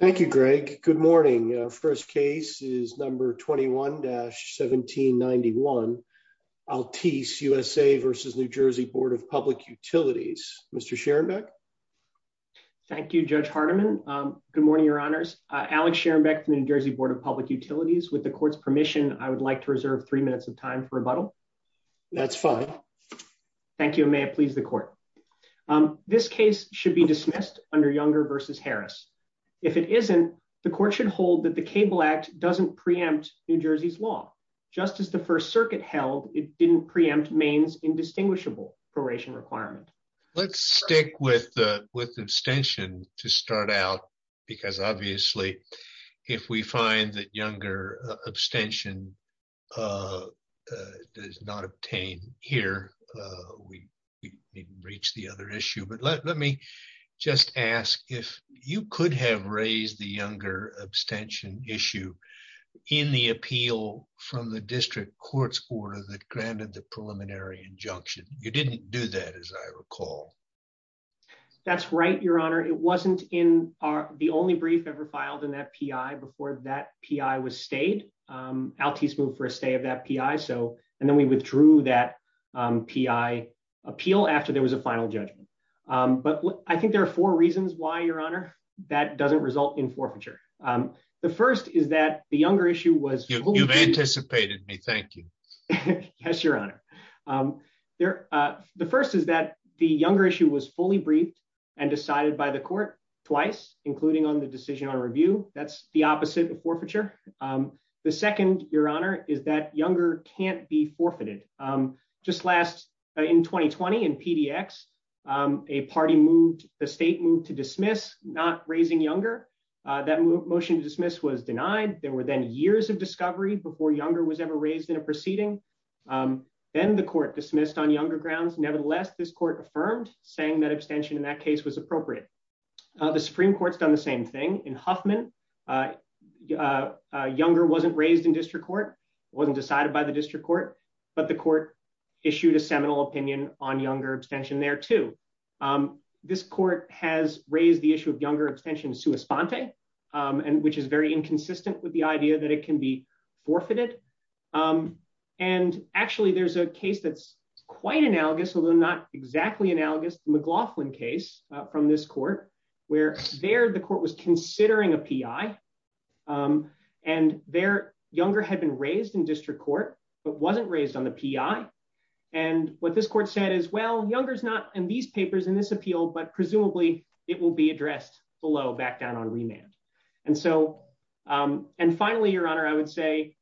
Thank you, Greg. Good morning. First case is number 21-1791, Altice USA v. NJ Board of Public Utilities. Mr. Scherenbeck? Thank you, Judge Hardiman. Good morning, Your Honors. Alex Scherenbeck from the NJ Board of Public Utilities. With the Court's permission, I would like to reserve three minutes of time for rebuttal. That's fine. Thank you, and may it please the Court. This case should be dismissed under Younger v. Harris. If it isn't, the Court should hold that the Cable Act doesn't preempt New Jersey's law. Just as the First Circuit held it didn't preempt Maine's indistinguishable proration requirement. Let's stick with abstention to start out, because obviously, if we find that Younger abstention does not obtain here, we didn't reach the other issue. But let me just ask if you could have raised the Younger abstention issue in the appeal from the District Court's order that granted the preliminary injunction. You didn't do that, as I recall. That's right, Your Honor. It wasn't in the only brief ever filed in that P.I. before that P.I. stayed. Altice moved for a stay of that P.I., and then we withdrew that P.I. appeal after there was a final judgment. But I think there are four reasons why, Your Honor, that doesn't result in forfeiture. The first is that the Younger issue was fully briefed. You've anticipated me. Thank you. Yes, Your Honor. The first is that the Younger issue was fully briefed and decided by court twice, including on the decision on review. That's the opposite of forfeiture. The second, Your Honor, is that Younger can't be forfeited. Just last, in 2020, in PDX, a party moved, a state moved to dismiss not raising Younger. That motion to dismiss was denied. There were then years of discovery before Younger was ever raised in a proceeding. Then the court dismissed on Younger grounds. Nevertheless, this court affirmed, saying that abstention in that case was appropriate. The Supreme Court's done the same thing. In Huffman, Younger wasn't raised in district court. It wasn't decided by the district court. But the court issued a seminal opinion on Younger abstention there, too. This court has raised the issue of Younger abstention sua sponte, which is very inconsistent with the idea that it can be forfeited. Actually, there's a case that's quite analogous, although not exactly analogous, the McLaughlin case from this court, where there, the court was considering a P.I., and there, Younger had been raised in district court, but wasn't raised on the P.I. What this court said is, well, Younger's not in these papers in this appeal, but presumably, it will be addressed below back down on remand. Finally, Your Honor, I would say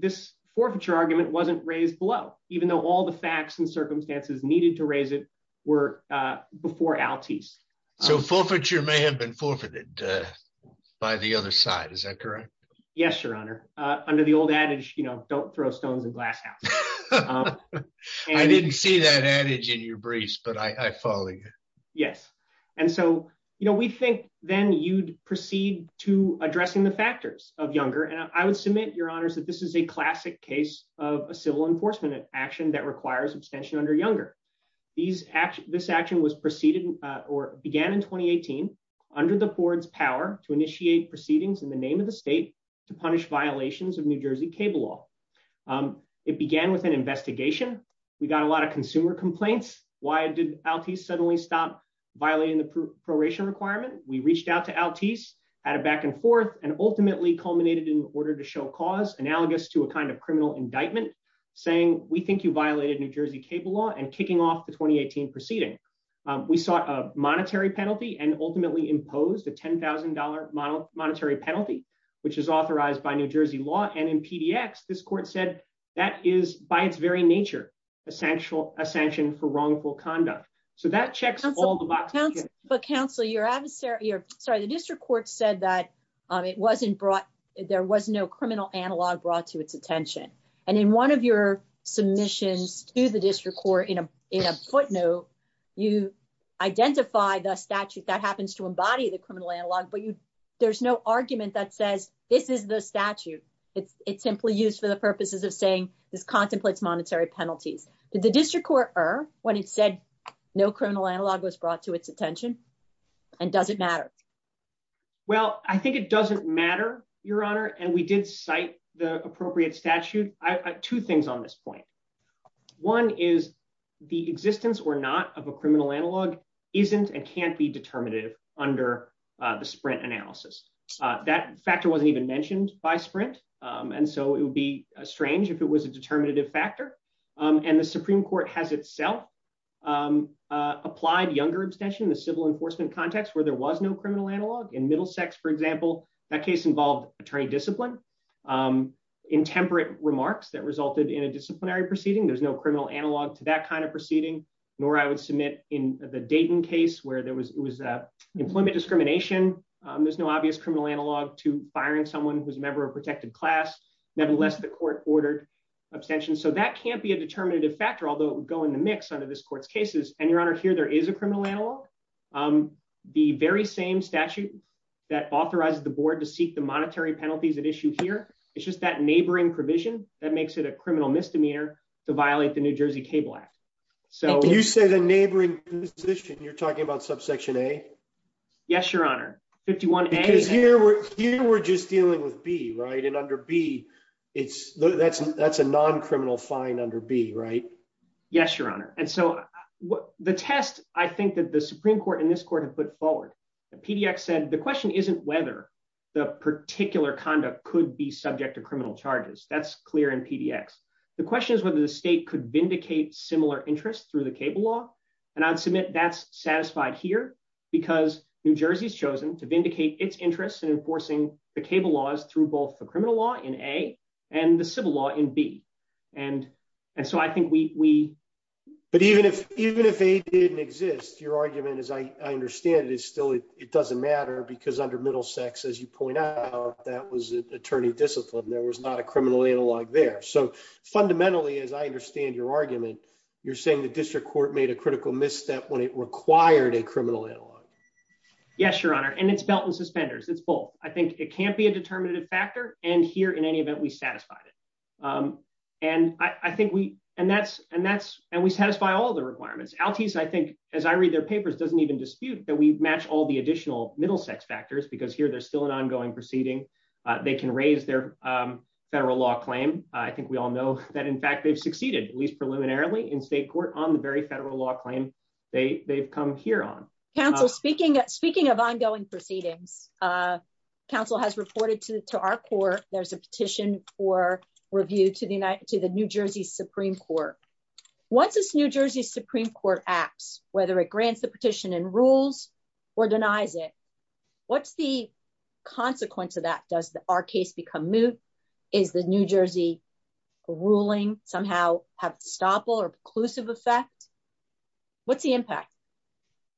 this forfeiture argument wasn't raised below, even though all the facts and circumstances needed to raise it were before Altice. So forfeiture may have been forfeited by the other side. Is that correct? Yes, Your Honor. Under the old adage, you know, don't throw stones in glass houses. I didn't see that adage in your briefs, but I follow you. Yes. And so, you know, we think then you'd proceed to addressing the factors of Younger, and I would submit, Your Honors, that this is a classic case of a civil enforcement action that requires abstention under Younger. This action was preceded, or began in 2018, under the board's power to initiate proceedings in the name of the state to punish violations of New Jersey cable law. It began with an investigation. We got a lot of consumer complaints. Why did Altice suddenly stop violating the proration requirement? We reached out to Altice, had a back and forth, and ultimately culminated in order to show cause, analogous to a kind of criminal indictment, saying, we think you violated New Jersey cable law, and kicking off the 2018 proceeding. We sought a monetary penalty and ultimately imposed a $10,000 monetary penalty, which is authorized by New Jersey law. And in PDX, this court said that is, by its very nature, a sanction for wrongful conduct. So that checks all the boxes. But counsel, your adversary, sorry, the district court said that it wasn't brought, there was no criminal analog brought to its attention. And in one of your submissions to the district court in a footnote, you identify the statute that happens to embody the criminal analog, but there's no argument that says, this is the statute. It's simply used for the purposes of saying, this contemplates monetary penalties. Did the district court err when it said no criminal analog was brought to its attention? And does it matter? Well, I think it doesn't matter, Your Honor. And we did cite the appropriate statute. Two things on this point. One is the existence or not of a criminal analog isn't and can't be determinative under the Sprint analysis. That factor wasn't even mentioned by Sprint. And so it would be strange if it was a determinative factor. And the Supreme Court has itself applied younger abstention in the civil enforcement context where there was no criminal analog. In Middlesex, for disciplinary proceeding, there's no criminal analog to that kind of proceeding, nor I would submit in the Dayton case where there was employment discrimination. There's no obvious criminal analog to firing someone who's a member of protected class. Nevertheless, the court ordered abstention. So that can't be a determinative factor, although it would go in the mix under this court's cases. And Your Honor, here, there is a criminal analog. The very same statute that authorizes the board to seek the monetary penalties at issue here, it's just that neighboring provision that makes it a criminal misdemeanor to violate the New Jersey Cable Act. So you say the neighboring position, you're talking about subsection A? Yes, Your Honor. 51A. Because here we're just dealing with B, right? And under B, it's that's a non-criminal fine under B, right? Yes, Your Honor. And so the test, I think that the Supreme Court and this court have put forward, the PDX said the question isn't whether the particular conduct could be subject to criminal charges. That's clear in PDX. The question is whether the state could vindicate similar interests through the cable law. And I'd submit that's satisfied here because New Jersey's chosen to vindicate its interests in enforcing the cable laws through both the criminal law in A and the civil law in B. And so I think we... But even if A didn't exist, your argument, as I understand it, is still it doesn't matter because under Middlesex, as you point out, that was attorney discipline. There was not a criminal analog there. So fundamentally, as I understand your argument, you're saying the district court made a critical misstep when it required a criminal analog. Yes, Your Honor. And it's belt and suspenders. It's both. I think it can't be a determinative factor. And here, in any event, we satisfied it. And I think we... And we satisfy all the requirements. Altice, I think, as I read their papers, doesn't even dispute that we match all the additional Middlesex factors because here there's still an ongoing proceeding. They can raise their federal law claim. I think we all know that, in fact, they've succeeded, at least preliminarily, in state court on the very federal law claim they've come here on. Counsel, speaking of ongoing proceedings, counsel has reported to our court. There's a petition for review to the New Jersey Supreme Court. Once this New Jersey Supreme Court acts, whether it grants the petition and rules or denies it, what's the consequence of that? Does our case become moot? Is the New Jersey ruling somehow have a stopple or preclusive effect? What's the impact?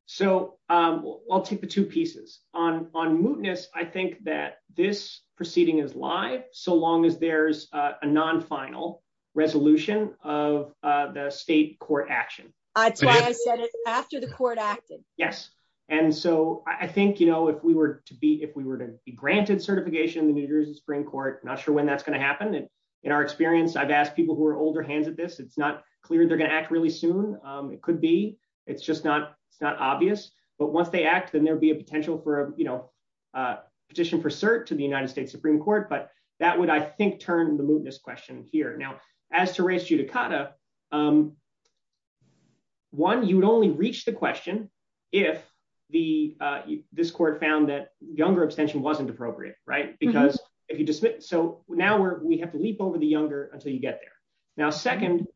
So I'll take the two pieces. On mootness, I think that this proceeding is live, so long as there's a non-final resolution of the state court action. That's why I said it's after the court acted. Yes. And so I think, you know, if we were to be granted certification in the New Jersey Supreme Court, not sure when that's going to happen. In our experience, I've asked people who are older hands at this. It's not clear they're going to act really soon. It could be. It's just not obvious. But once they act, there'll be a potential for a petition for cert to the United States Supreme Court. But that would, I think, turn the mootness question here. Now, as to raised judicata, one, you would only reach the question if this court found that younger abstention wasn't appropriate, right? Because if you just. So now we have to leap over the younger until you get there. Now, second,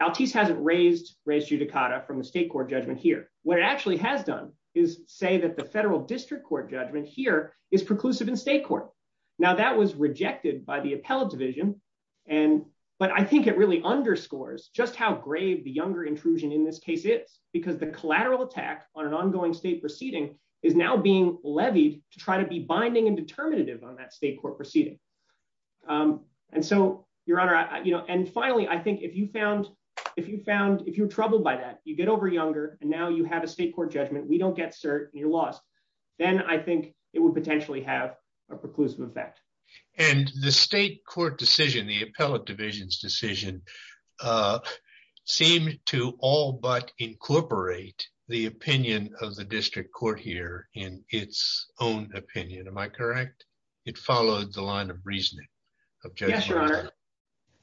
Altice hasn't raised judicata from the state court judgment here. What it has done is say that the federal district court judgment here is preclusive in state court. Now, that was rejected by the appellate division. And but I think it really underscores just how grave the younger intrusion in this case is, because the collateral attack on an ongoing state proceeding is now being levied to try to be binding and determinative on that state court proceeding. And so, Your Honor, you know, and finally, I think if you found if you found if you're we don't get cert and you're lost, then I think it would potentially have a preclusive effect. And the state court decision, the appellate division's decision, seemed to all but incorporate the opinion of the district court here in its own opinion. Am I correct? It followed the line of reasoning. Yes, Your Honor.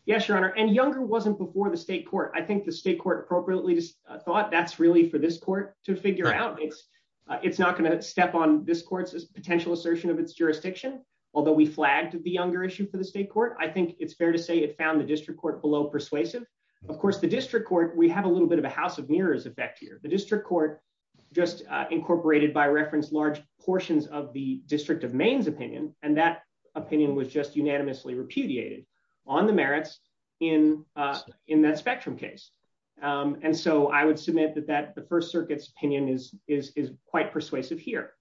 Yes, Your Honor. And younger wasn't before the state court. I think the state court appropriately thought that's really for this court to figure out. It's it's not going to step on this court's potential assertion of its jurisdiction. Although we flagged the younger issue for the state court, I think it's fair to say it found the district court below persuasive. Of course, the district court, we have a little bit of a house of mirrors effect here. The district court just incorporated by reference large portions of the District of Maine's opinion. And that opinion was just unanimously repudiated on the merits in in that spectrum case. And so I would submit that that the First Circuit's opinion is is is quite persuasive here.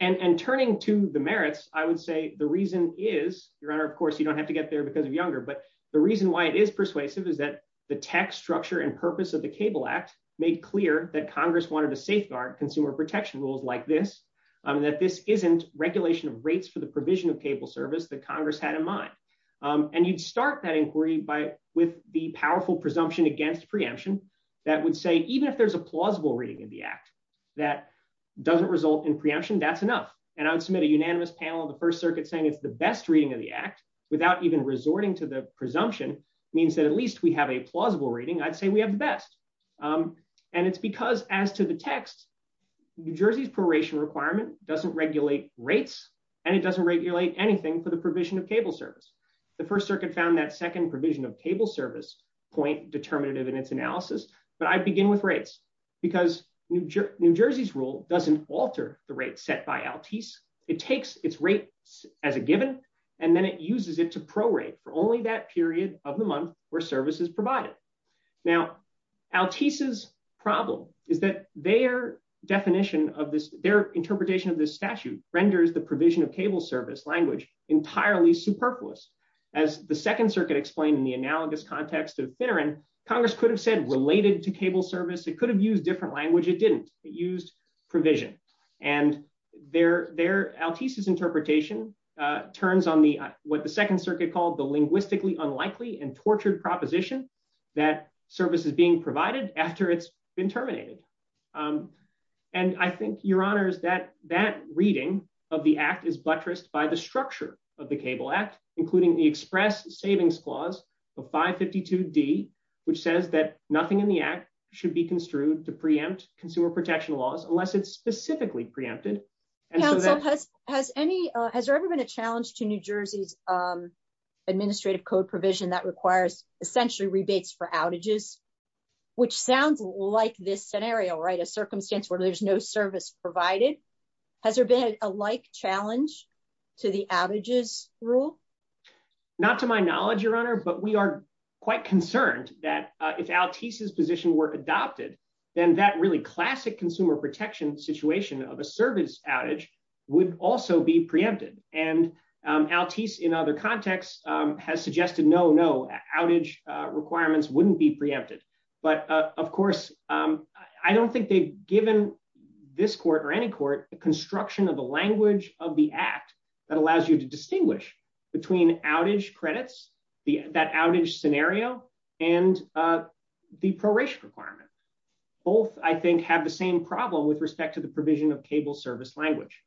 And turning to the merits, I would say the reason is, Your Honor, of course, you don't have to get there because of younger. But the reason why it is persuasive is that the tech structure and purpose of the Cable Act made clear that Congress wanted to safeguard consumer protection rules like this, that this isn't regulation of rates for the provision of cable service that Congress had in mind. And you'd start that inquiry by with the powerful presumption against preemption that would say even if there's a plausible reading in the act that doesn't result in preemption, that's enough. And I would submit a unanimous panel of the First Circuit saying it's the best reading of the act without even resorting to the presumption means that at least we have a plausible reading, I'd say we have the best. And it's because as to text, New Jersey's proration requirement doesn't regulate rates, and it doesn't regulate anything for the provision of cable service. The First Circuit found that second provision of cable service point determinative in its analysis, but I begin with rates, because New Jersey's rule doesn't alter the rate set by Altice. It takes its rate as a given, and then it uses it to prorate for only that period of the month where service is provided. Now, Altice's problem is that their definition of this, their interpretation of this statute renders the provision of cable service language entirely superfluous. As the Second Circuit explained in the analogous context of Finneran, Congress could have said related to cable service, it could have used different language, it didn't, it used provision. And Altice's interpretation turns on the what the Second Circuit called the linguistically unlikely and tortured proposition that service is being provided after it's been terminated. And I think, Your Honors, that that reading of the Act is buttressed by the structure of the Cable Act, including the Express Savings Clause of 552d, which says that nothing in the Act should be construed to preempt consumer protection laws unless it's specifically preempted. Has there ever been a challenge to New Jersey's administrative code provision that requires essentially rebates for outages, which sounds like this scenario, right? A circumstance where there's no service provided. Has there been a like challenge to the outages rule? Not to my knowledge, Your Honor, but we are quite concerned that if Altice's position were adopted, then that really classic consumer protection situation of a service outage would also be preempted. And Altice in other contexts has suggested no, no, outage requirements wouldn't be preempted. But of course, I don't think they've given this court or any court the construction of the language of the Act that allows you to distinguish between outage credits, that outage scenario, and the proration requirement. Both, I think, have the same problem with respect to the provision of cable service language.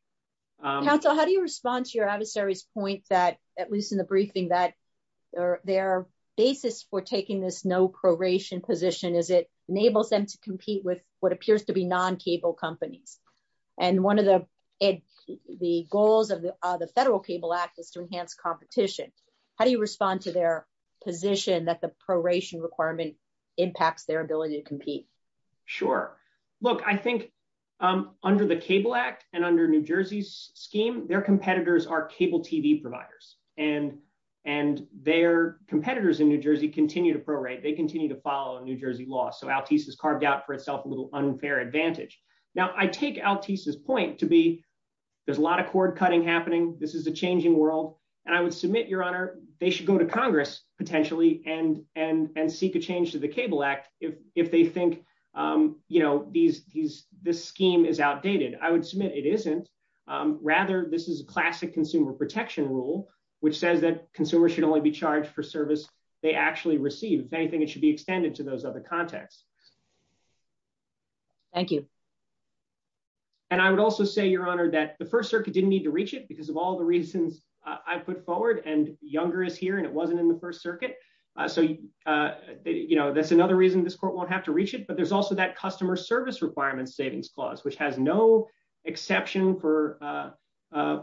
Counsel, how do you respond to your adversary's point that, at least in the briefing, that their basis for taking this no proration position is it enables them to compete with what appears to be non-cable companies? And one of the goals of the Federal Cable Act is to enhance competition. How do you respond to their position that the proration requirement impacts their ability to compete? Sure. Look, I think under the Cable Act and under New Jersey's scheme, their competitors are cable TV providers. And their competitors in New Jersey continue to prorate. They continue to follow New Jersey law. So Altice has carved out for itself a little unfair advantage. Now, I take Altice's point to be there's a lot of cord cutting happening. This is a changing world. And I would submit, Your Honor, they should go to Congress, potentially, and seek a change to the Cable Act if they think this scheme is outdated. I would submit it isn't. Rather, this is a classic consumer protection rule, which says that consumers should only be charged for service they actually receive. If anything, it should be extended to those other contexts. Thank you. And I would also say, Your Honor, that the First Circuit didn't need to reach it because of all the reasons I put forward. And Younger is here, and it wasn't in the First Circuit. So that's another reason this court won't have to reach it. But there's also that customer service requirements savings clause, which has no exception for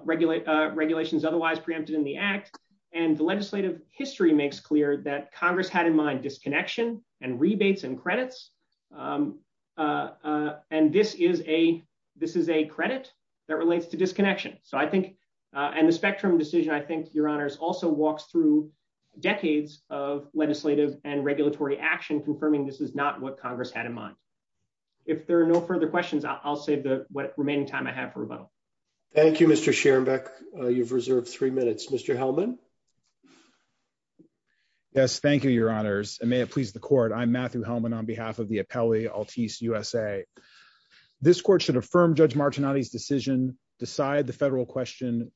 regulations otherwise preempted in the Act. And the legislative history makes clear that Congress had in mind disconnection and rebates and credits. And this is a credit that relates to disconnection. And the Spectrum decision, I think, Your Honors, also walks through decades of legislative and regulatory action confirming this is not what Congress had in mind. If there are no further questions, I'll save the remaining time I have for rebuttal. Thank you, Mr. Scherenbeck. You've reserved three minutes. Mr. Hellman? Yes, thank you, Your Honors. And may it please the Court. I'm Matthew Hellman on behalf of the Appellee Altice USA. This court should affirm Judge Martinotti's decision, decide the federal question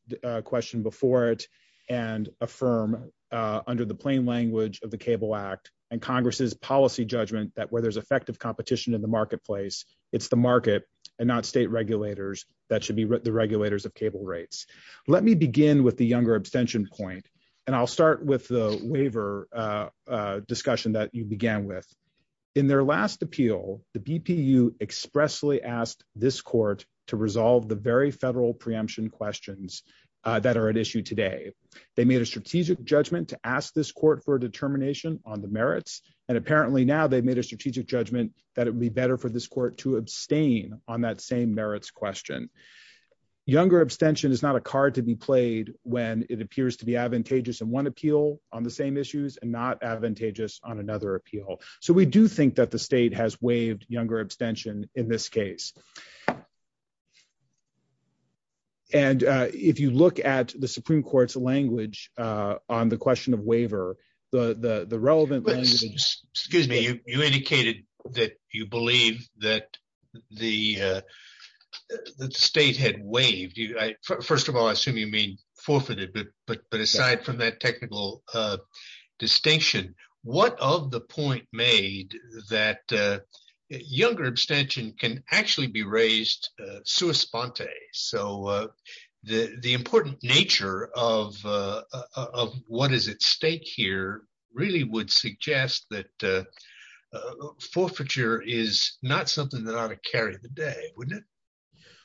before it, and affirm under the plain language of the Cable Act and Congress's policy judgment that where there's effective competition in the marketplace, it's the market and not state regulators that should be the regulators of cable rates. Let me begin with the Younger abstention point. And I'll start with the waiver discussion that you began with. In their last appeal, the BPU expressly asked this court to resolve the very federal preemption questions that are at issue today. They made a strategic judgment to ask this court for a determination on the merits. And apparently now they've made a strategic judgment that it would be better for this court to abstain on that same merits question. Younger abstention is not a card to be played when it appears to be advantageous in one appeal on the same issues and advantageous on another appeal. So we do think that the state has waived Younger abstention in this case. And if you look at the Supreme Court's language on the question of waiver, the relevant language... Excuse me. You indicated that you believe that the state had waived. First of all, I assume you mean forfeited, but aside from that technical distinction, what of the point made that Younger abstention can actually be raised sua sponte? So the important nature of what is at stake here really would suggest that forfeiture is not something that ought to carry the day, wouldn't it?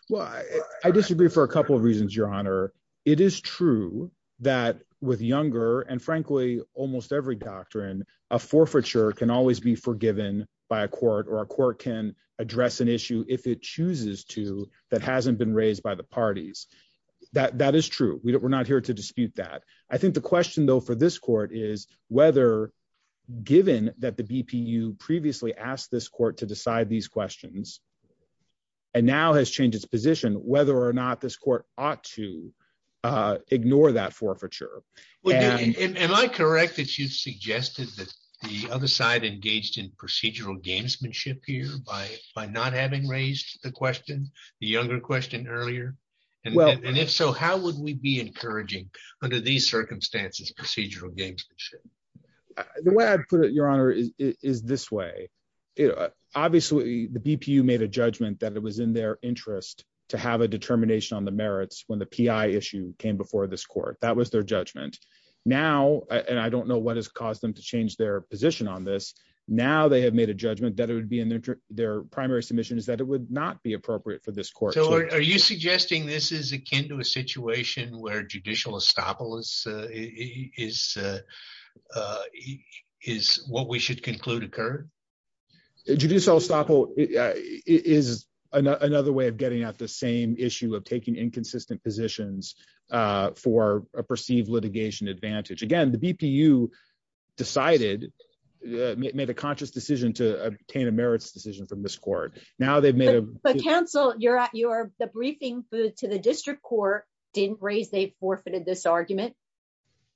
Well, I disagree for a couple of reasons, Your Honor. It is true that with Younger and frankly, almost every doctrine, a forfeiture can always be forgiven by a court or a court can address an issue if it chooses to that hasn't been raised by the parties. That is true. We're not here to dispute that. I think the question though for this court is whether given that the now has changed its position, whether or not this court ought to ignore that forfeiture. Am I correct that you suggested that the other side engaged in procedural gamesmanship here by not having raised the question, the Younger question earlier? And if so, how would we be encouraging under these circumstances, procedural gamesmanship? The way I put it, Your Honor, is this way. Obviously, the BPU made a judgment that it was in their interest to have a determination on the merits when the PI issue came before this court. That was their judgment. Now, and I don't know what has caused them to change their position on this. Now they have made a judgment that it would be in their primary submission is that it would not be appropriate for this court. So are you suggesting this is akin to a situation where judicial estoppel is what we should conclude occurred? Judicial estoppel is another way of getting at the same issue of taking inconsistent positions for a perceived litigation advantage. Again, the BPU decided, made a conscious decision to obtain a merits decision from this court. But counsel, the briefing to the district court didn't raise they forfeited this argument.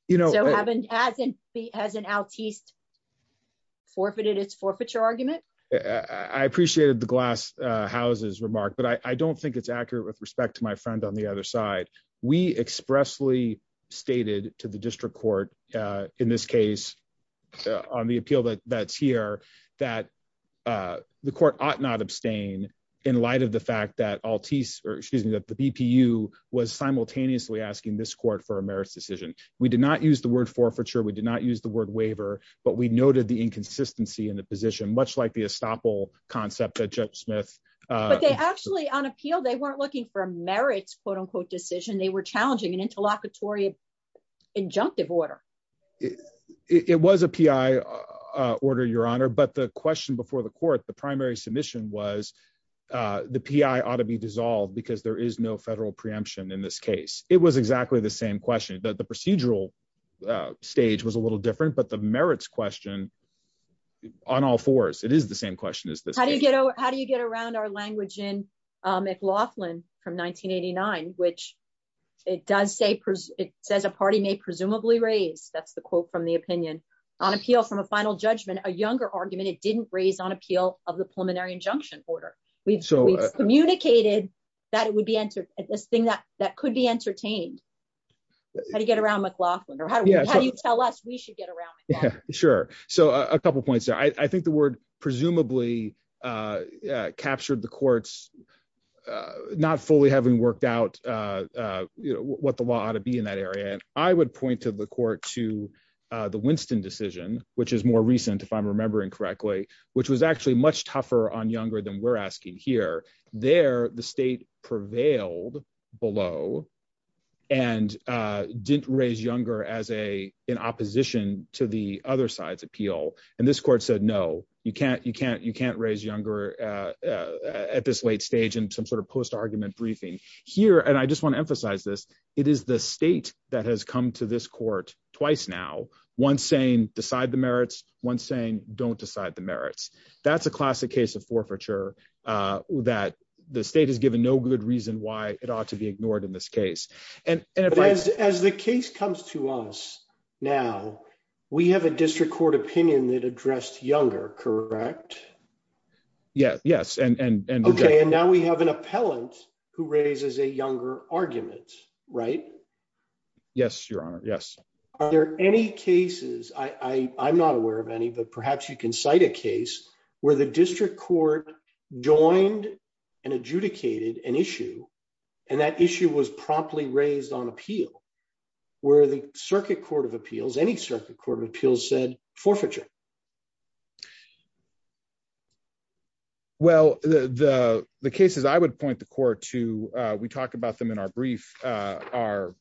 Hasn't Altice forfeited its forfeiture argument? I appreciated the Glass House's remark, but I don't think it's accurate with respect to my friend on the other side. We expressly stated to the district court, in this case, on the appeal that's here, that the court ought not abstain in light of the fact that the BPU was simultaneously asking this court for a merits decision. We did not use the word forfeiture. We did not use the word waiver, but we noted the inconsistency in the position, much like the estoppel concept that Judge Smith- But they actually, on appeal, they weren't looking for a merits, quote unquote, decision. They were challenging an interlocutory injunctive order. It was a PI order, Your Honor, but the question before the court, the primary submission was the PI ought to be dissolved because there is no federal preemption in this case. It was exactly the same question. The procedural stage was a little different, but the merits question, on all fours, it is the same question as this. How do you get around our language in from 1989, which it says a party may presumably raise, that's the quote from the opinion, on appeal from a final judgment, a younger argument, it didn't raise on appeal of the preliminary injunction order. We've communicated that it would be this thing that could be entertained. How do you get around McLaughlin or how do you tell us we should get around McLaughlin? Sure. A couple of points there. I think the word presumably captured the court's not fully having worked out what the law ought to be in that area. I would point to the court to the Winston decision, which is more recent, if I'm remembering correctly, which was actually much tougher on younger than we're asking here. There, the state prevailed below and didn't raise younger as an opposition to the other side's appeal. This court said, no, you can't raise younger at this late stage in some post-argument briefing. Here, and I just want to emphasize this, it is the state that has come to this court twice now, one saying, decide the merits, one saying, don't decide the merits. That's a classic case of forfeiture that the state has given no good reason why it ought to be ignored in this case. And as the case comes to us now, we have a district court opinion that addressed younger, correct? Yes. Okay. And now we have an appellant who raises a younger argument, right? Yes, your honor. Yes. Are there any cases, I'm not aware of any, but perhaps you can cite a case where the district court joined and adjudicated an issue and that issue was promptly raised on appeal where the circuit court of appeals, any circuit court of appeals said forfeiture? Well, the cases I would point the court to, we talked about them in our brief, are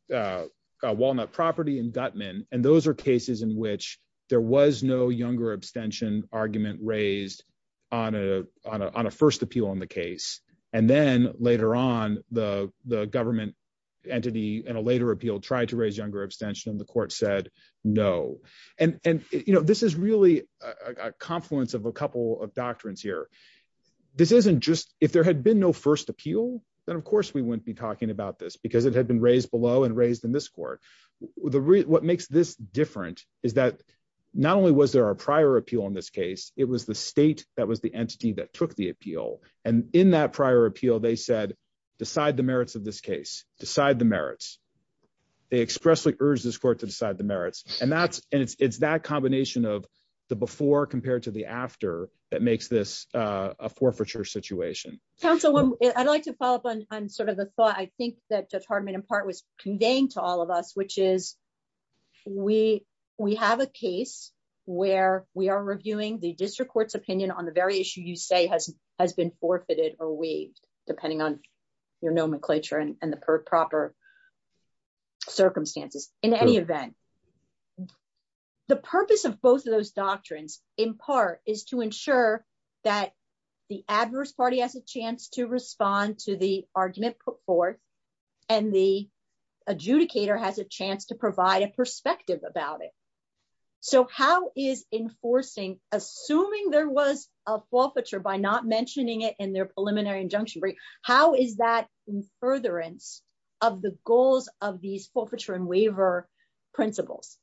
Walnut Property and Gutman. And those are cases in which there was no younger abstention argument raised on a first appeal on the case. And then later on the government entity and a later appeal tried to raise younger abstention and the court said, no. And this is really a confluence of a couple of doctrines here. This isn't just, if there had been no first appeal, then of course we wouldn't be talking about this because it had been raised below and raised in court. What makes this different is that not only was there a prior appeal in this case, it was the state that was the entity that took the appeal. And in that prior appeal, they said, decide the merits of this case, decide the merits. They expressly urged this court to decide the merits. And it's that combination of the before compared to the after that makes this a forfeiture situation. Counsel, I'd like to follow up on sort of the thought. I think that Judge Hardiman in of us, which is we have a case where we are reviewing the district court's opinion on the very issue you say has been forfeited or waived depending on your nomenclature and the proper circumstances. In any event, the purpose of both of those doctrines in part is to ensure that the adverse party has a chance to respond to the argument put forth and the adjudicator has a chance to provide a perspective about it. So how is enforcing, assuming there was a forfeiture by not mentioning it in their preliminary injunction brief, how is that in furtherance of the goals of these forfeiture and waiver principles?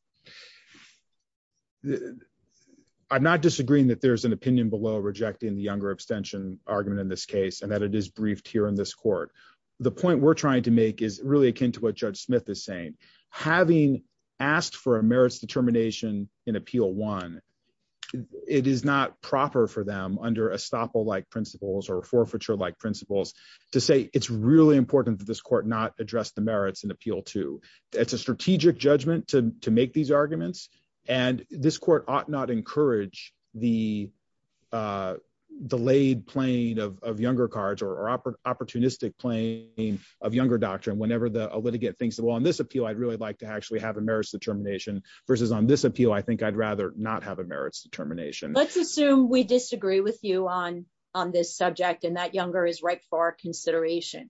I'm not disagreeing that there's an opinion below rejecting the younger abstention argument in this case and that it is briefed here in this court. The point we're trying to make is really akin to what Judge Smith is saying. Having asked for a merits determination in appeal one, it is not proper for them under estoppel-like principles or forfeiture-like principles to say it's really important that this court not address the merits in appeal two. It's a strategic judgment to make these arguments and this court ought not encourage the delayed playing of younger cards or opportunistic playing of younger doctrine whenever a litigant thinks that, well, on this appeal I'd really like to actually have a merits determination versus on this appeal I think I'd rather not have a merits determination. Let's assume we disagree with you on this subject and that younger is right for our consideration.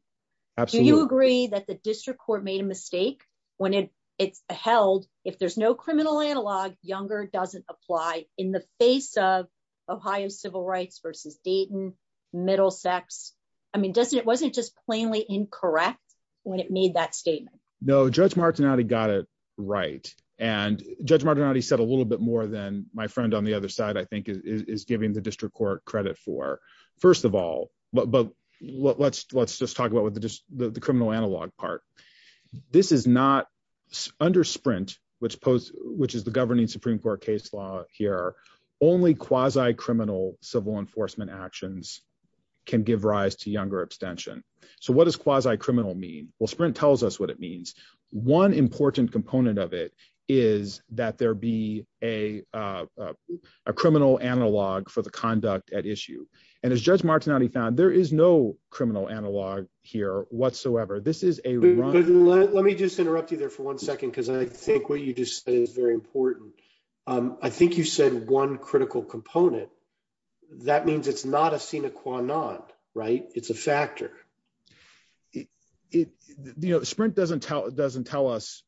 Absolutely. Do you agree that the district court made a mistake when it's held if there's no criminal analog, younger doesn't apply in the face of Ohio civil rights versus Dayton, Middlesex? I mean, wasn't it just plainly incorrect when it made that statement? No, Judge Martinotti got it right and Judge Martinotti said a little bit more than my friend on the other side I think is giving the district court credit for. First of all, but let's just talk about the criminal analog part. This is not under Sprint which is the governing Supreme Court case law here. Only quasi-criminal civil enforcement actions can give rise to younger abstention. So what does quasi-criminal mean? Well, Sprint tells us what it means. One important component of it is that there be a criminal analog for the conduct at issue and as Judge Martinotti said, there is no criminal analog here whatsoever. Let me just interrupt you there for one second because I think what you just said is very important. I think you said one critical component. That means it's not a sine qua non, right? It's a factor. Sprint doesn't tell us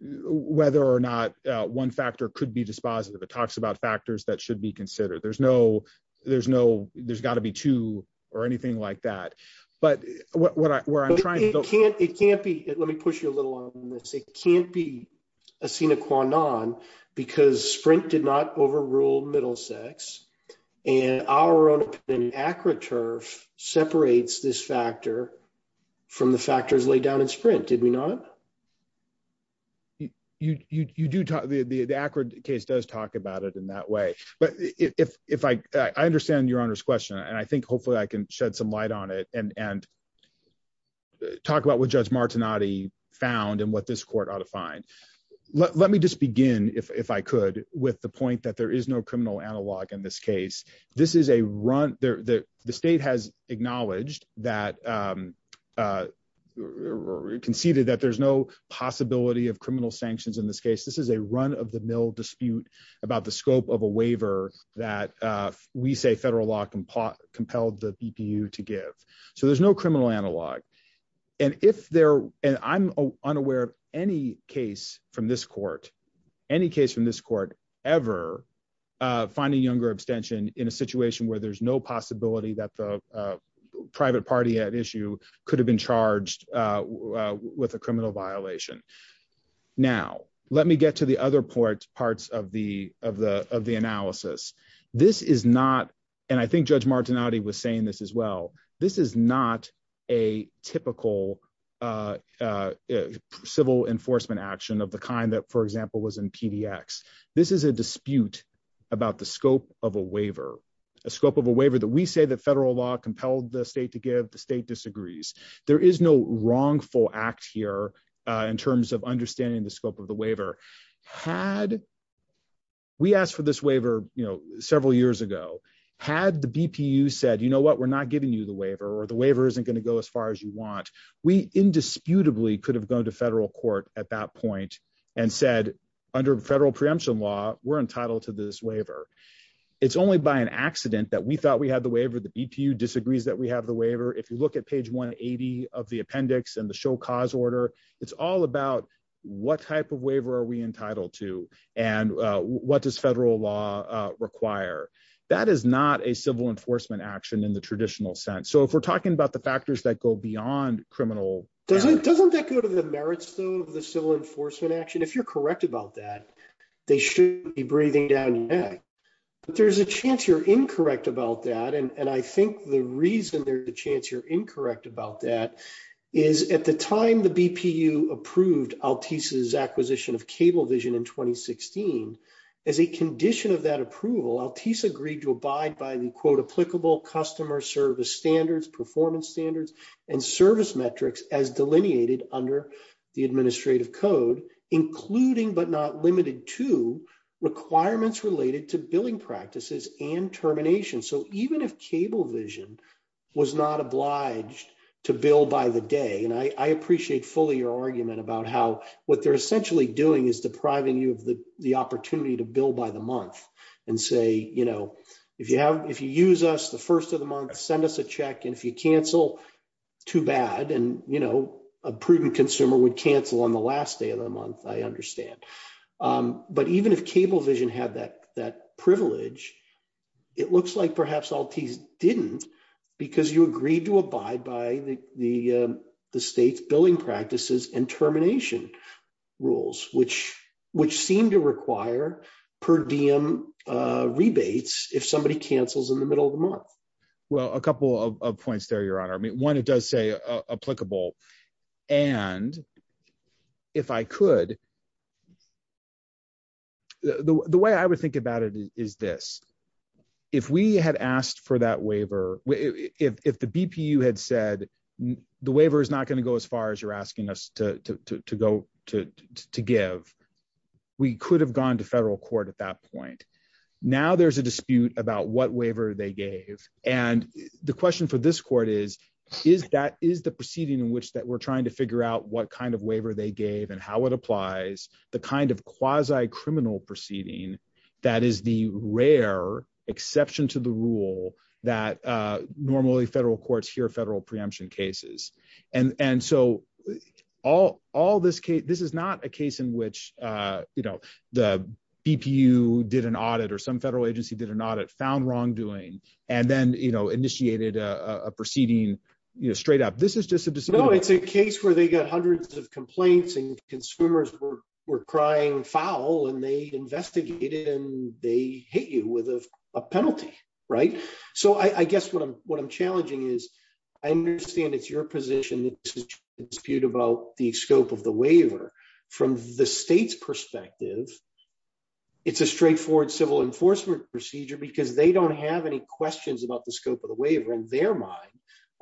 whether or not one factor could be dispositive. It talks about factors that should be considered. There's got to be two or anything like that, but where I'm trying to go... It can't be. Let me push you a little on this. It can't be a sine qua non because Sprint did not overrule Middlesex and our own opinion, ACRA turf separates this factor from the factors laid down in Sprint, did we not? You do talk... The ACRA case does talk about it in that way, but if I... I understand your Honor's question and I think hopefully I can shed some light on it and talk about what Judge Martinotti found and what this court ought to find. Let me just begin, if I could, with the point that there is no criminal analog in this case. This is a run... The state has acknowledged that... Conceded that there's no possibility of criminal sanctions in this case. This is a run of the mill dispute about the scope of a waiver that we say federal law compelled the BPU to give. So there's no criminal analog. And if there... And I'm unaware of any case from this court, any case from this court ever finding younger abstention in a situation where there's no party at issue could have been charged with a criminal violation. Now, let me get to the other parts of the analysis. This is not... And I think Judge Martinotti was saying this as well. This is not a typical civil enforcement action of the kind that, for example, was in PDX. This is a dispute about the scope of a waiver, a scope of a waiver that we say that federal law compelled the state to give. The state disagrees. There is no wrongful act here in terms of understanding the scope of the waiver. Had we asked for this waiver several years ago, had the BPU said, you know what, we're not giving you the waiver or the waiver isn't going to go as far as you want, we indisputably could have gone to federal court at that point and said, under federal preemption law, we're entitled to this waiver. It's only by an accident that we have the waiver. If you look at page 180 of the appendix and the show cause order, it's all about what type of waiver are we entitled to and what does federal law require. That is not a civil enforcement action in the traditional sense. So if we're talking about the factors that go beyond criminal... Doesn't that go to the merits, though, of the civil enforcement action? If you're correct about that, they shouldn't be breathing down your But there's a chance you're incorrect about that. And I think the reason there's a chance you're incorrect about that is at the time the BPU approved Altice's acquisition of Cablevision in 2016, as a condition of that approval, Altice agreed to abide by the quote, applicable customer service standards, performance standards, and service metrics as delineated under the administrative code, including but not limited to requirements related to billing practices and termination. So even if Cablevision was not obliged to bill by the day, and I appreciate fully your argument about how what they're essentially doing is depriving you of the opportunity to bill by the month and say, if you use us the first of the month, send us a check, if you cancel, too bad. And, you know, a prudent consumer would cancel on the last day of the month, I understand. But even if Cablevision had that, that privilege, it looks like perhaps Altice didn't, because you agreed to abide by the state's billing practices and termination rules, which, which seem to require per diem rebates, if somebody cancels in the middle of Well, a couple of points there, Your Honor, I mean, one, it does say applicable. And if I could, the way I would think about it is this, if we had asked for that waiver, if the BPU had said, the waiver is not going to go as far as you're asking us to go to give, we could have gone to And the question for this court is, is that is the proceeding in which that we're trying to figure out what kind of waiver they gave and how it applies the kind of quasi criminal proceeding, that is the rare exception to the rule that normally federal courts hear federal preemption cases. And and so all all this case, this is not a case in which, you know, the BPU did an audit, or some federal agency did an audit found wrongdoing, and then, you know, initiated a proceeding, you know, straight up, this is just a, it's a case where they got hundreds of complaints and consumers were, were crying foul, and they investigated and they hit you with a penalty. Right. So I guess what I'm what I'm challenging is, I understand it's your position, dispute about the scope of the waiver, from the state's perspective, it's a straightforward civil enforcement procedure, because they don't have any questions about the scope of the waiver, in their mind,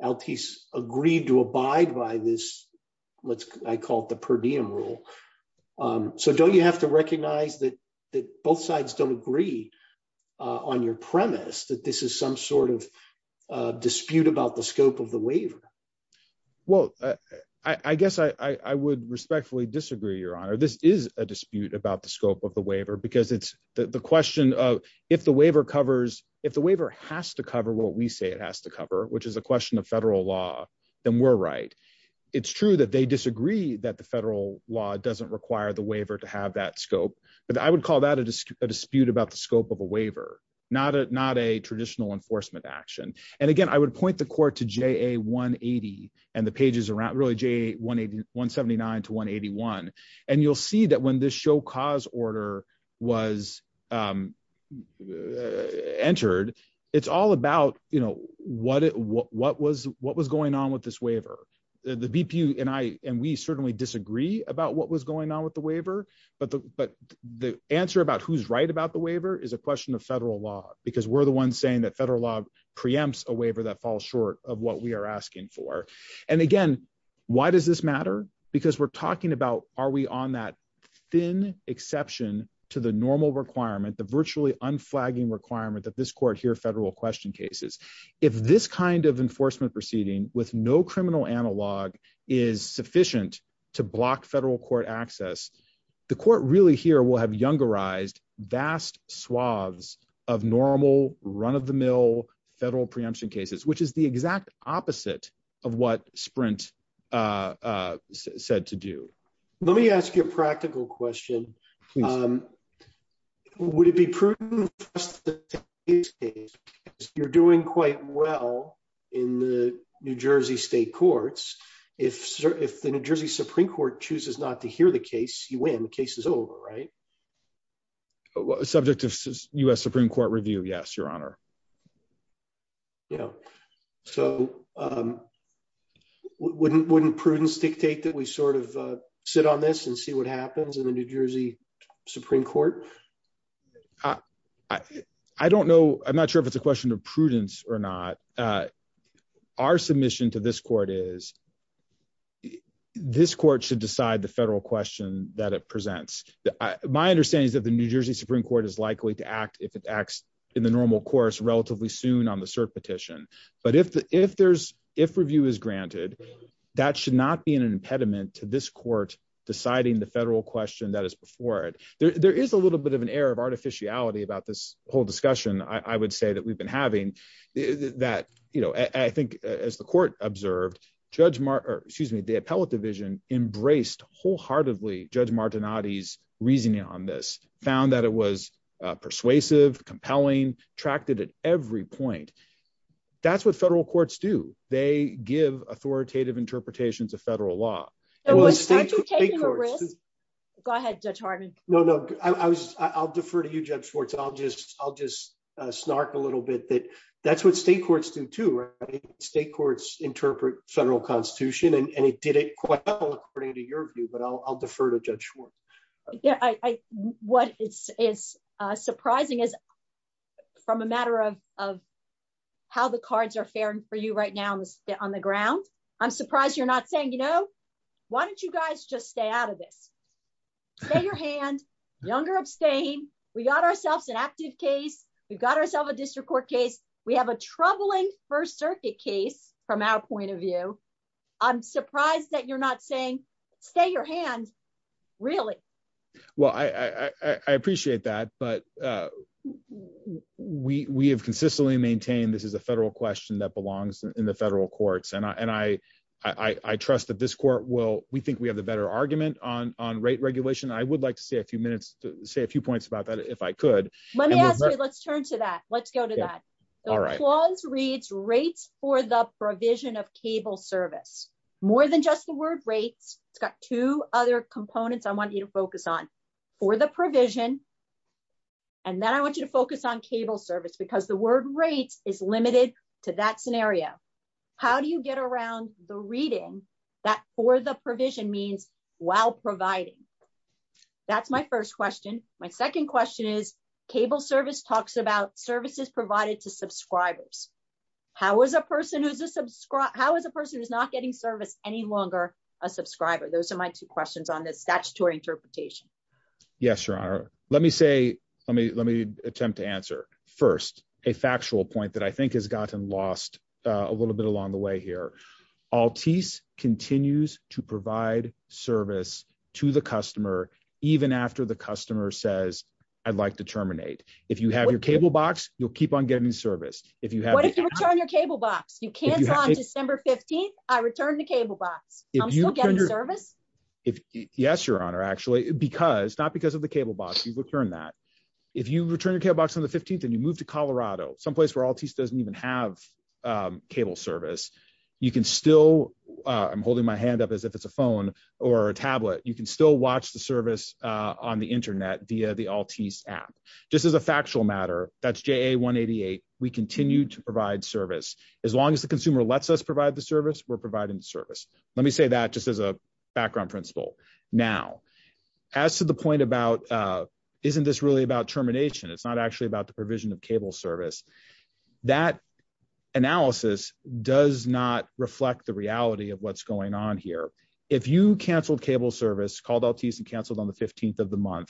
LPS agreed to abide by this, let's call it the per diem rule. So don't you have to recognize that, that both sides don't agree on your premise that this is some sort of dispute about the scope of the waiver? Well, I guess I would respectfully disagree, Your Honor, this is a dispute about the scope of the waiver, because it's the question of if the waiver covers, if the waiver has to cover what we say it has to cover, which is a question of federal law, then we're right. It's true that they disagree that the federal law doesn't require the waiver to have that scope. But I would call that a dispute about the scope of a waiver, not a not a traditional enforcement action. And again, I would point the court to ja 180. And the pages around really j 181 79 to 181. And you'll see that when this show cause order was entered, it's all about, you know, what it what was what was going on with this waiver, the VP, and I and we certainly disagree about what was going on with the waiver. But the but the answer about who's right about the waiver is a question of federal law, because we're the ones saying that federal law preempts a waiver that falls short of what we are asking for. And again, why does this matter? Because we're talking about are we on that thin exception to the normal requirement, the virtually unflagging requirement that this court here federal question cases, if this kind of enforcement proceeding with no criminal analog is sufficient to block federal court access, the court really here will have younger eyes vast swaths of normal run of the mill federal preemption cases, which is the exact opposite of what sprint said to do. Let me ask you a practical question. Would it be prudent? You're doing quite well, in the New Jersey Supreme Court chooses not to hear the case, you win the case is over, right? Subject of US Supreme Court review? Yes, Your Honor. Yeah. So wouldn't wouldn't prudence dictate that we sort of sit on this and see what happens in the New Jersey Supreme Court? I don't know. I'm not sure if it's a question of prudence or not. Our submission to this court is this court should decide the federal question that it presents. My understanding is that the New Jersey Supreme Court is likely to act if it acts in the normal course relatively soon on the cert petition. But if the if there's if review is granted, that should not be an impediment to this court deciding the federal question that is before it, there is a little bit of an air of artificiality about this whole discussion, I would say that we've been having that, you know, I think, as the court observed, Judge Mark, excuse me, the appellate division embraced wholeheartedly, Judge Martin oddies reasoning on this found that it was persuasive, compelling, tracked it at every point. That's what federal courts do. They give authoritative interpretations of federal law. Go ahead, Judge Harden. No, no, I was I'll defer to you, I'll just I'll just snark a little bit that that's what state courts do to state courts interpret federal constitution, and it did it quite well, according to your view, but I'll defer to Judge Schwartz. Yeah, I what is surprising is from a matter of how the cards are fairing for you right now on the ground. I'm surprised you're not saying you know, why don't you guys just stay out of this? Stay your hand younger abstain. We got ourselves an active case. We've got ourselves a district court case. We have a troubling First Circuit case from our point of view. I'm surprised that you're not saying stay your hand. Really? Well, I appreciate that. But we have consistently maintained this is a federal question that this court will we think we have the better argument on on rate regulation. I would like to say a few minutes to say a few points about that if I could. Let's turn to that. Let's go to that. All right, laws reads rates for the provision of cable service more than just the word rates. It's got two other components I want you to focus on for the provision. And then I want you to focus on cable service because the word rates is limited to that scenario. How do you get around the reading that for the provision means while providing? That's my first question. My second question is cable service talks about services provided to subscribers. How is a person who's a subscriber? How is a person who's not getting service any longer? A subscriber? Those are my two questions on this statutory interpretation. Yes, Your Honor. Let me say let me let me attempt to answer first a factual point that I think has gotten lost a little bit along the way here. Altice continues to provide service to the customer, even after the customer says, I'd like to terminate. If you have your cable box, you'll keep on getting service. If you have your cable box, you can't on December 15. I returned the cable box service. If Yes, Your Honor, actually, because not because of the cable box, you've returned that. If you return your cable box on the 15th, and you move to Colorado, someplace where Altice doesn't have cable service, you can still I'm holding my hand up as if it's a phone or a tablet, you can still watch the service on the Internet via the Altice app. Just as a factual matter, that's JA 188. We continue to provide service. As long as the consumer lets us provide the service, we're providing service. Let me say that just as a background principle. Now, as to the point about isn't this really about termination? It's not actually about the provision of cable service. That analysis does not reflect the reality of what's going on here. If you cancelled cable service called Altice and cancelled on the 15th of the month,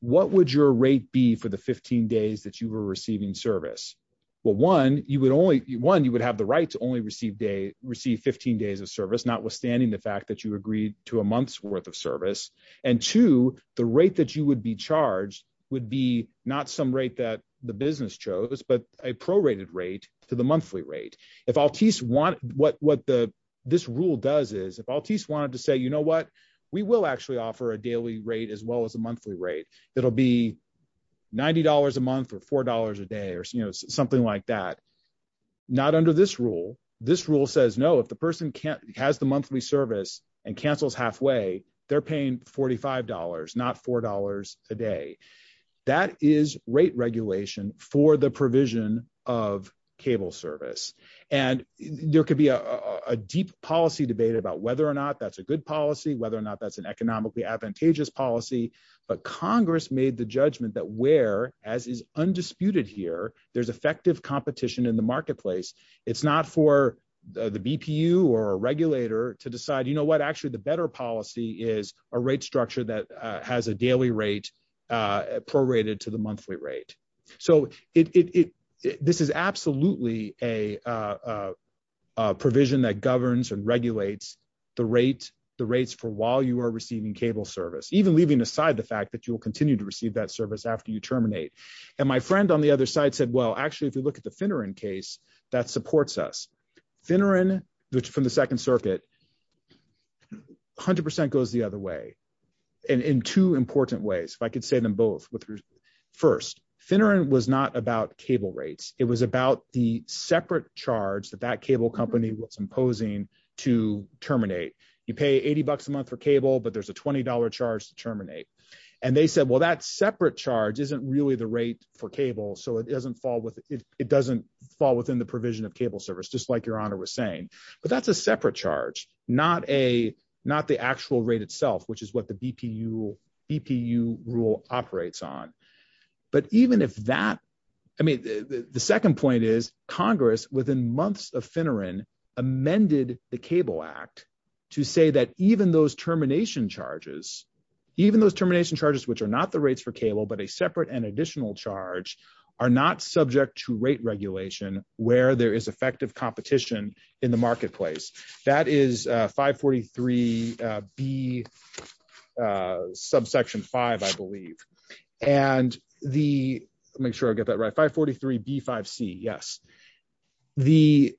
what would your rate be for the 15 days that you were receiving service? Well, one, you would only one, you would have the right to only receive day receive 15 days of service, notwithstanding the fact that you agreed to a month's worth of service. And to the rate that you would be charged would be not some rate that the business chose, but a prorated rate to the monthly rate. What this rule does is if Altice wanted to say, you know what, we will actually offer a daily rate as well as a monthly rate. It'll be $90 a month or $4 a day or something like that. Not under this rule. This rule says, no, if the person has the monthly service and cancels halfway, they're paying $45, not $4 a day. That is rate regulation for the provision of cable service. And there could be a deep policy debate about whether or not that's a good policy, whether or not that's an economically advantageous policy. But Congress made the judgment that where, as is undisputed here, there's effective competition in the marketplace. It's not for the BPU or a regulator to decide, you know what, actually, better policy is a rate structure that has a daily rate prorated to the monthly rate. So this is absolutely a provision that governs and regulates the rates for while you are receiving cable service, even leaving aside the fact that you will continue to receive that service after you terminate. And my friend on the other side said, well, actually, if you look at the Finneran case, that supports us. Finneran, from the second circuit, 100% goes the other way. And in two important ways, if I could say them both. First, Finneran was not about cable rates. It was about the separate charge that that cable company was imposing to terminate. You pay $80 a month for cable, but there's a $20 charge to terminate. And they said, well, that separate charge isn't really the rate for cable. So it doesn't fall within the provision of cable service, just like your honor was saying. But that's a separate charge, not the actual rate itself, which is what the BPU rule operates on. But even if that, I mean, the second point is Congress within months of Finneran amended the Cable Act to say that even those termination charges, which are not the rates for cable, but a separate and additional charge, are not subject to rate regulation where there is effective competition in the marketplace. That is 543B subsection 5, I believe. And the, let me make sure I get that right, 543B5C, yes. The,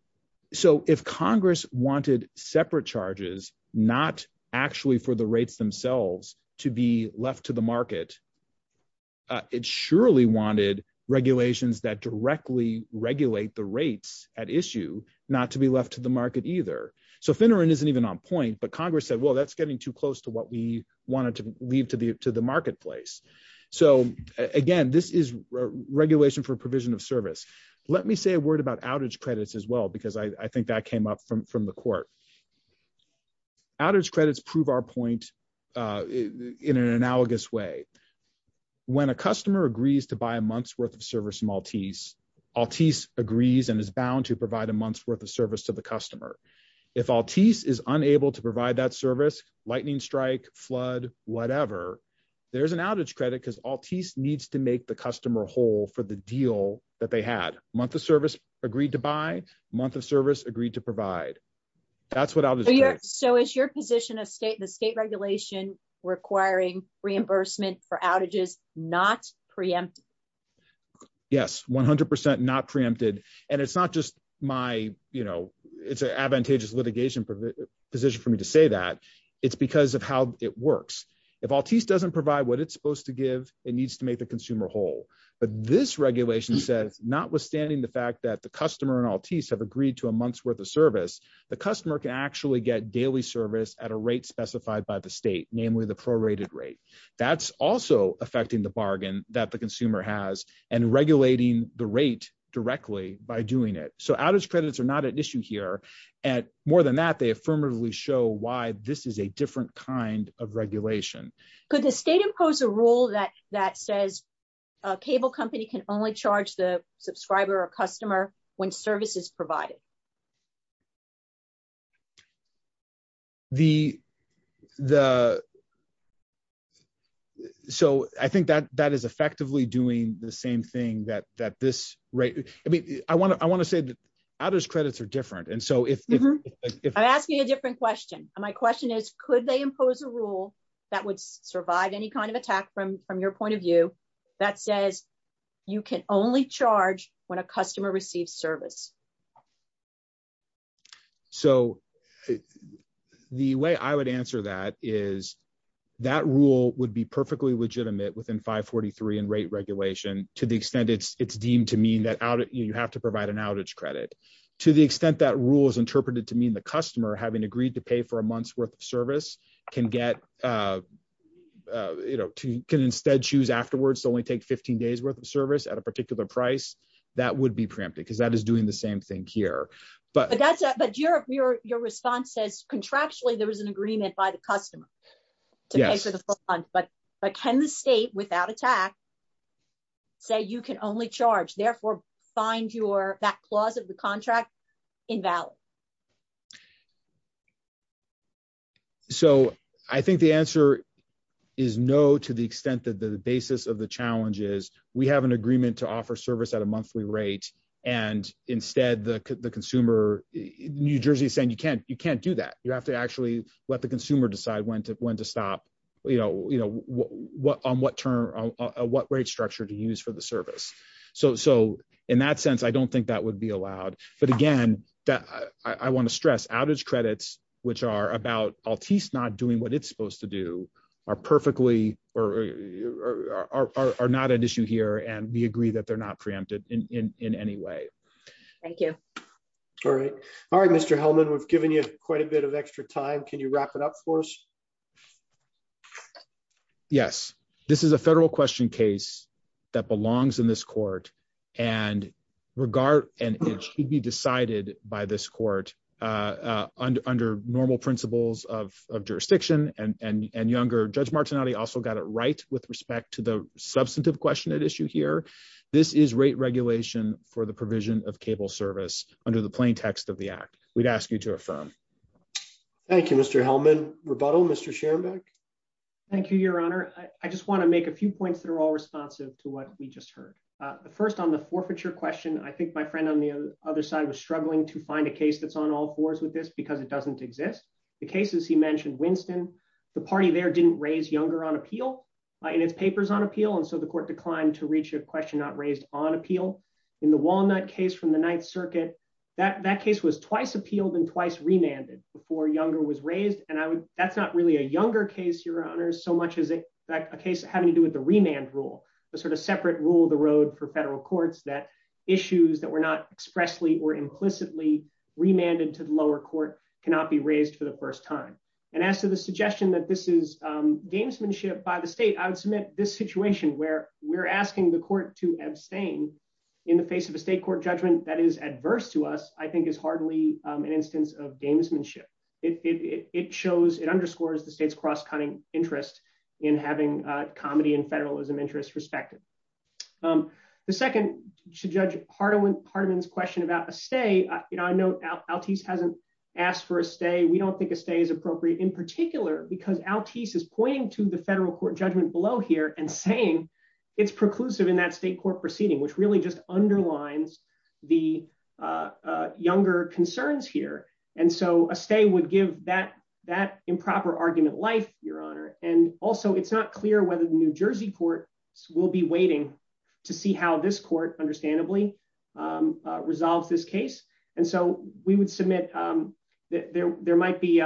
so if Congress wanted separate charges, not actually for the rates themselves, to be left to the market, it surely wanted regulations that directly regulate the rates at issue not to be left to the market either. So Finneran isn't even on point, but Congress said, well, that's getting too close to what we wanted to leave to the marketplace. So again, this is regulation for provision of service. Let me say a word about outage credits as well, because I in an analogous way, when a customer agrees to buy a month's worth of service from Altice, Altice agrees and is bound to provide a month's worth of service to the customer. If Altice is unable to provide that service, lightning strike, flood, whatever, there's an outage credit because Altice needs to make the customer whole for the deal that they had. Month of service agreed to buy, month of service agreed to provide. That's what outage credit is. So is your position of state and the state regulation requiring reimbursement for outages not preempted? Yes, 100% not preempted. And it's not just my, you know, it's an advantageous litigation position for me to say that. It's because of how it works. If Altice doesn't provide what it's supposed to give, it needs to make the consumer whole. But this regulation says, notwithstanding the fact that the customer and Altice have agreed to a month's worth of service, the customer can actually get daily service at a rate specified by the state, namely the prorated rate. That's also affecting the bargain that the consumer has and regulating the rate directly by doing it. So outage credits are not an issue here. And more than that, they affirmatively show why this is a different kind of regulation. Could the state impose a rule that says a cable company can only charge the customer? So I think that is effectively doing the same thing that this rate, I mean, I want to say that outage credits are different. And so if- I'm asking a different question. My question is, could they impose a rule that would survive any kind of attack from your point of view that says you can only charge when a customer receives service? So the way I would answer that is that rule would be perfectly legitimate within 543 and rate regulation to the extent it's deemed to mean that you have to provide an outage credit. To the extent that rule is interpreted to mean the customer having agreed to pay for a month's worth of service can get- can instead choose afterwards to only take 15 days worth of service. So that is doing the same thing here. But that's- But your response says contractually there was an agreement by the customer to pay for the month. But can the state, without attack, say you can only charge, therefore find your- that clause of the contract invalid? So I think the answer is no to the extent that the basis of the challenge is we have an agreement to offer service at a monthly rate, and instead the consumer- New Jersey is saying you can't do that. You have to actually let the consumer decide when to stop, you know, on what term- what rate structure to use for the service. So in that sense, I don't think that would be allowed. But again, I want to stress outage credits, which are about Altice not doing what it's supposed to do, are perfectly- or are not an issue here. And we agree that they're not preempted in any way. Thank you. All right. All right, Mr. Hellman, we've given you quite a bit of extra time. Can you wrap it up for us? Yes. This is a federal question case that belongs in this court. And regard- and it should be decided by this court under normal principles of jurisdiction and younger. Judge also got it right with respect to the substantive question at issue here. This is rate regulation for the provision of cable service under the plain text of the act. We'd ask you to affirm. Thank you, Mr. Hellman. Rebuttal, Mr. Schoenberg? Thank you, Your Honor. I just want to make a few points that are all responsive to what we just heard. The first on the forfeiture question, I think my friend on the other side was struggling to find a case that's on all fours with this because it doesn't exist. The cases he mentioned, Winston, the party there didn't raise Younger on appeal in its papers on appeal. And so the court declined to reach a question not raised on appeal. In the Walnut case from the Ninth Circuit, that case was twice appealed and twice remanded before Younger was raised. And that's not really a Younger case, Your Honors, so much as a case having to do with the remand rule, a sort of separate rule of the road for federal courts that issues that were not first time. And as to the suggestion that this is gamesmanship by the state, I would submit this situation where we're asking the court to abstain in the face of a state court judgment that is adverse to us, I think is hardly an instance of gamesmanship. It shows, it underscores the state's cross-cutting interest in having comedy and federalism interests respected. The second, to Judge Hardeman's question about a stay, I know Altice hasn't asked for a stay. We don't think a stay is appropriate in particular because Altice is pointing to the federal court judgment below here and saying it's preclusive in that state court proceeding, which really just underlines the Younger concerns here. And so a stay would give that improper argument life, Your Honor. And also it's not clear whether the New Jersey court will be waiting to see how this There might be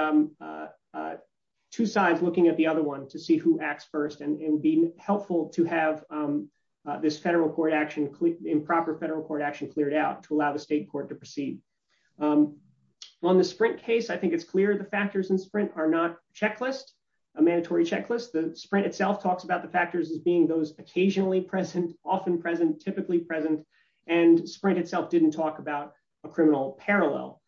two sides looking at the other one to see who acts first and be helpful to have this federal court action, improper federal court action cleared out to allow the state court to proceed. On the Sprint case, I think it's clear the factors in Sprint are not checklist, a mandatory checklist. The Sprint itself talks about the factors as being those occasionally present, often present, typically present, and Sprint itself didn't talk about criminal parallel.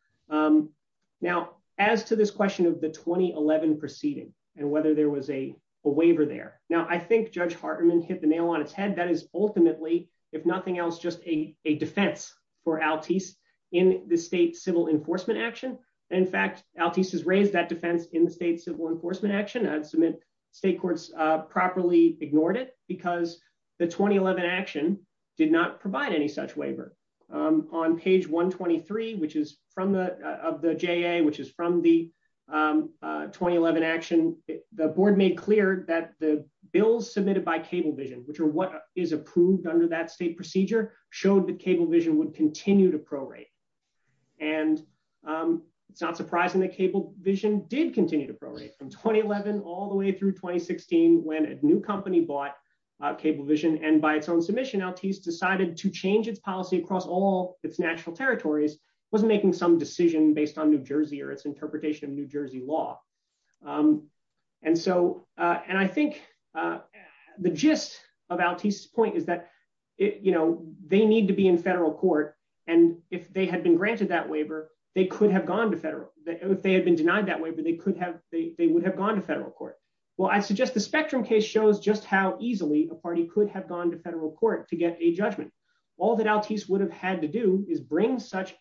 Now, as to this question of the 2011 proceeding and whether there was a waiver there. Now, I think Judge Hardeman hit the nail on its head. That is ultimately, if nothing else, just a defense for Altice in the state civil enforcement action. In fact, Altice has raised that defense in the state civil enforcement action and state courts properly ignored it because the 2011 action did not provide any such waiver. On page 123, which is from the, of the JA, which is from the 2011 action, the board made clear that the bills submitted by Cablevision, which are what is approved under that state procedure, showed that Cablevision would continue to prorate. And it's not surprising that Cablevision did continue to prorate from when he bought Cablevision. And by its own submission, Altice decided to change its policy across all its natural territories, wasn't making some decision based on New Jersey or its interpretation of New Jersey law. And so, and I think the gist of Altice's point is that, you know, they need to be in federal court. And if they had been granted that waiver, they could have gone to federal, if they had been denied that waiver, they could have, they would have gone to federal court. Well, I suggest the Spectrum case shows just how easily a party could have gone to federal court to get a judgment. All that Altice would have had to do is bring such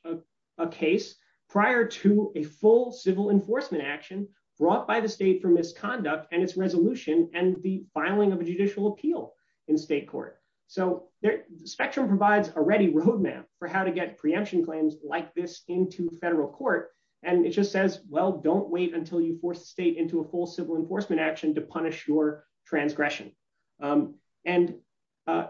a case prior to a full civil enforcement action brought by the state for misconduct and its resolution and the filing of a judicial appeal in state court. So Spectrum provides a ready roadmap for how to get preemption claims like this into federal court. And it just says, well, don't wait until you force the state into a full civil enforcement action to punish your transgression. And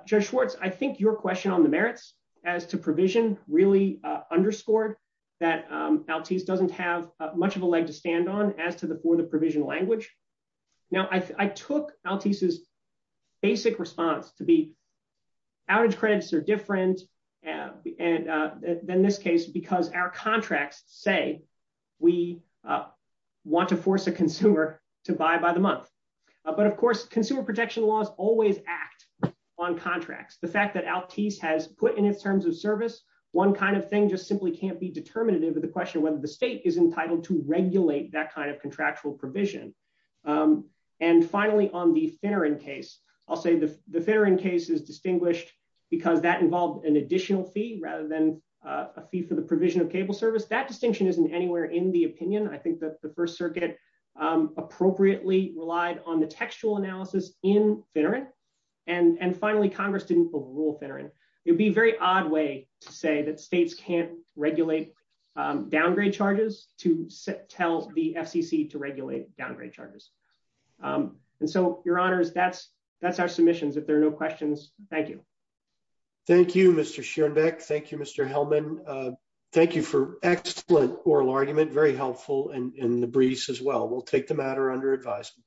Judge Schwartz, I think your question on the merits as to provision really underscored that Altice doesn't have much of a leg to stand on as to the, for the provision language. Now, I took Altice's basic response to be outage credits are different than this case because our contracts say we want to force a consumer to buy by the month. But of course, consumer protection laws always act on contracts. The fact that Altice has put in its terms of service, one kind of thing just simply can't be determinative of the question of whether the state is entitled to regulate that kind of contractual provision. And finally, on the Finneran case, I'll say the Finneran case is distinguished because that involved an additional fee rather than a fee for the provision of cable service. That distinction isn't anywhere in the opinion. I think that the first circuit appropriately relied on the textual analysis in Finneran. And finally, Congress didn't pull the rule Finneran. It would be a very odd way to say that states can't regulate downgrade charges to tell the FCC to regulate downgrade charges. And so, your honors, that's our submissions. If there are no questions, thank you. Thank you, Mr. Schoenbeck. Thank you, Mr. Hellman. Thank you for excellent oral argument, very helpful in the briefs as well. We'll take the matter under advisement.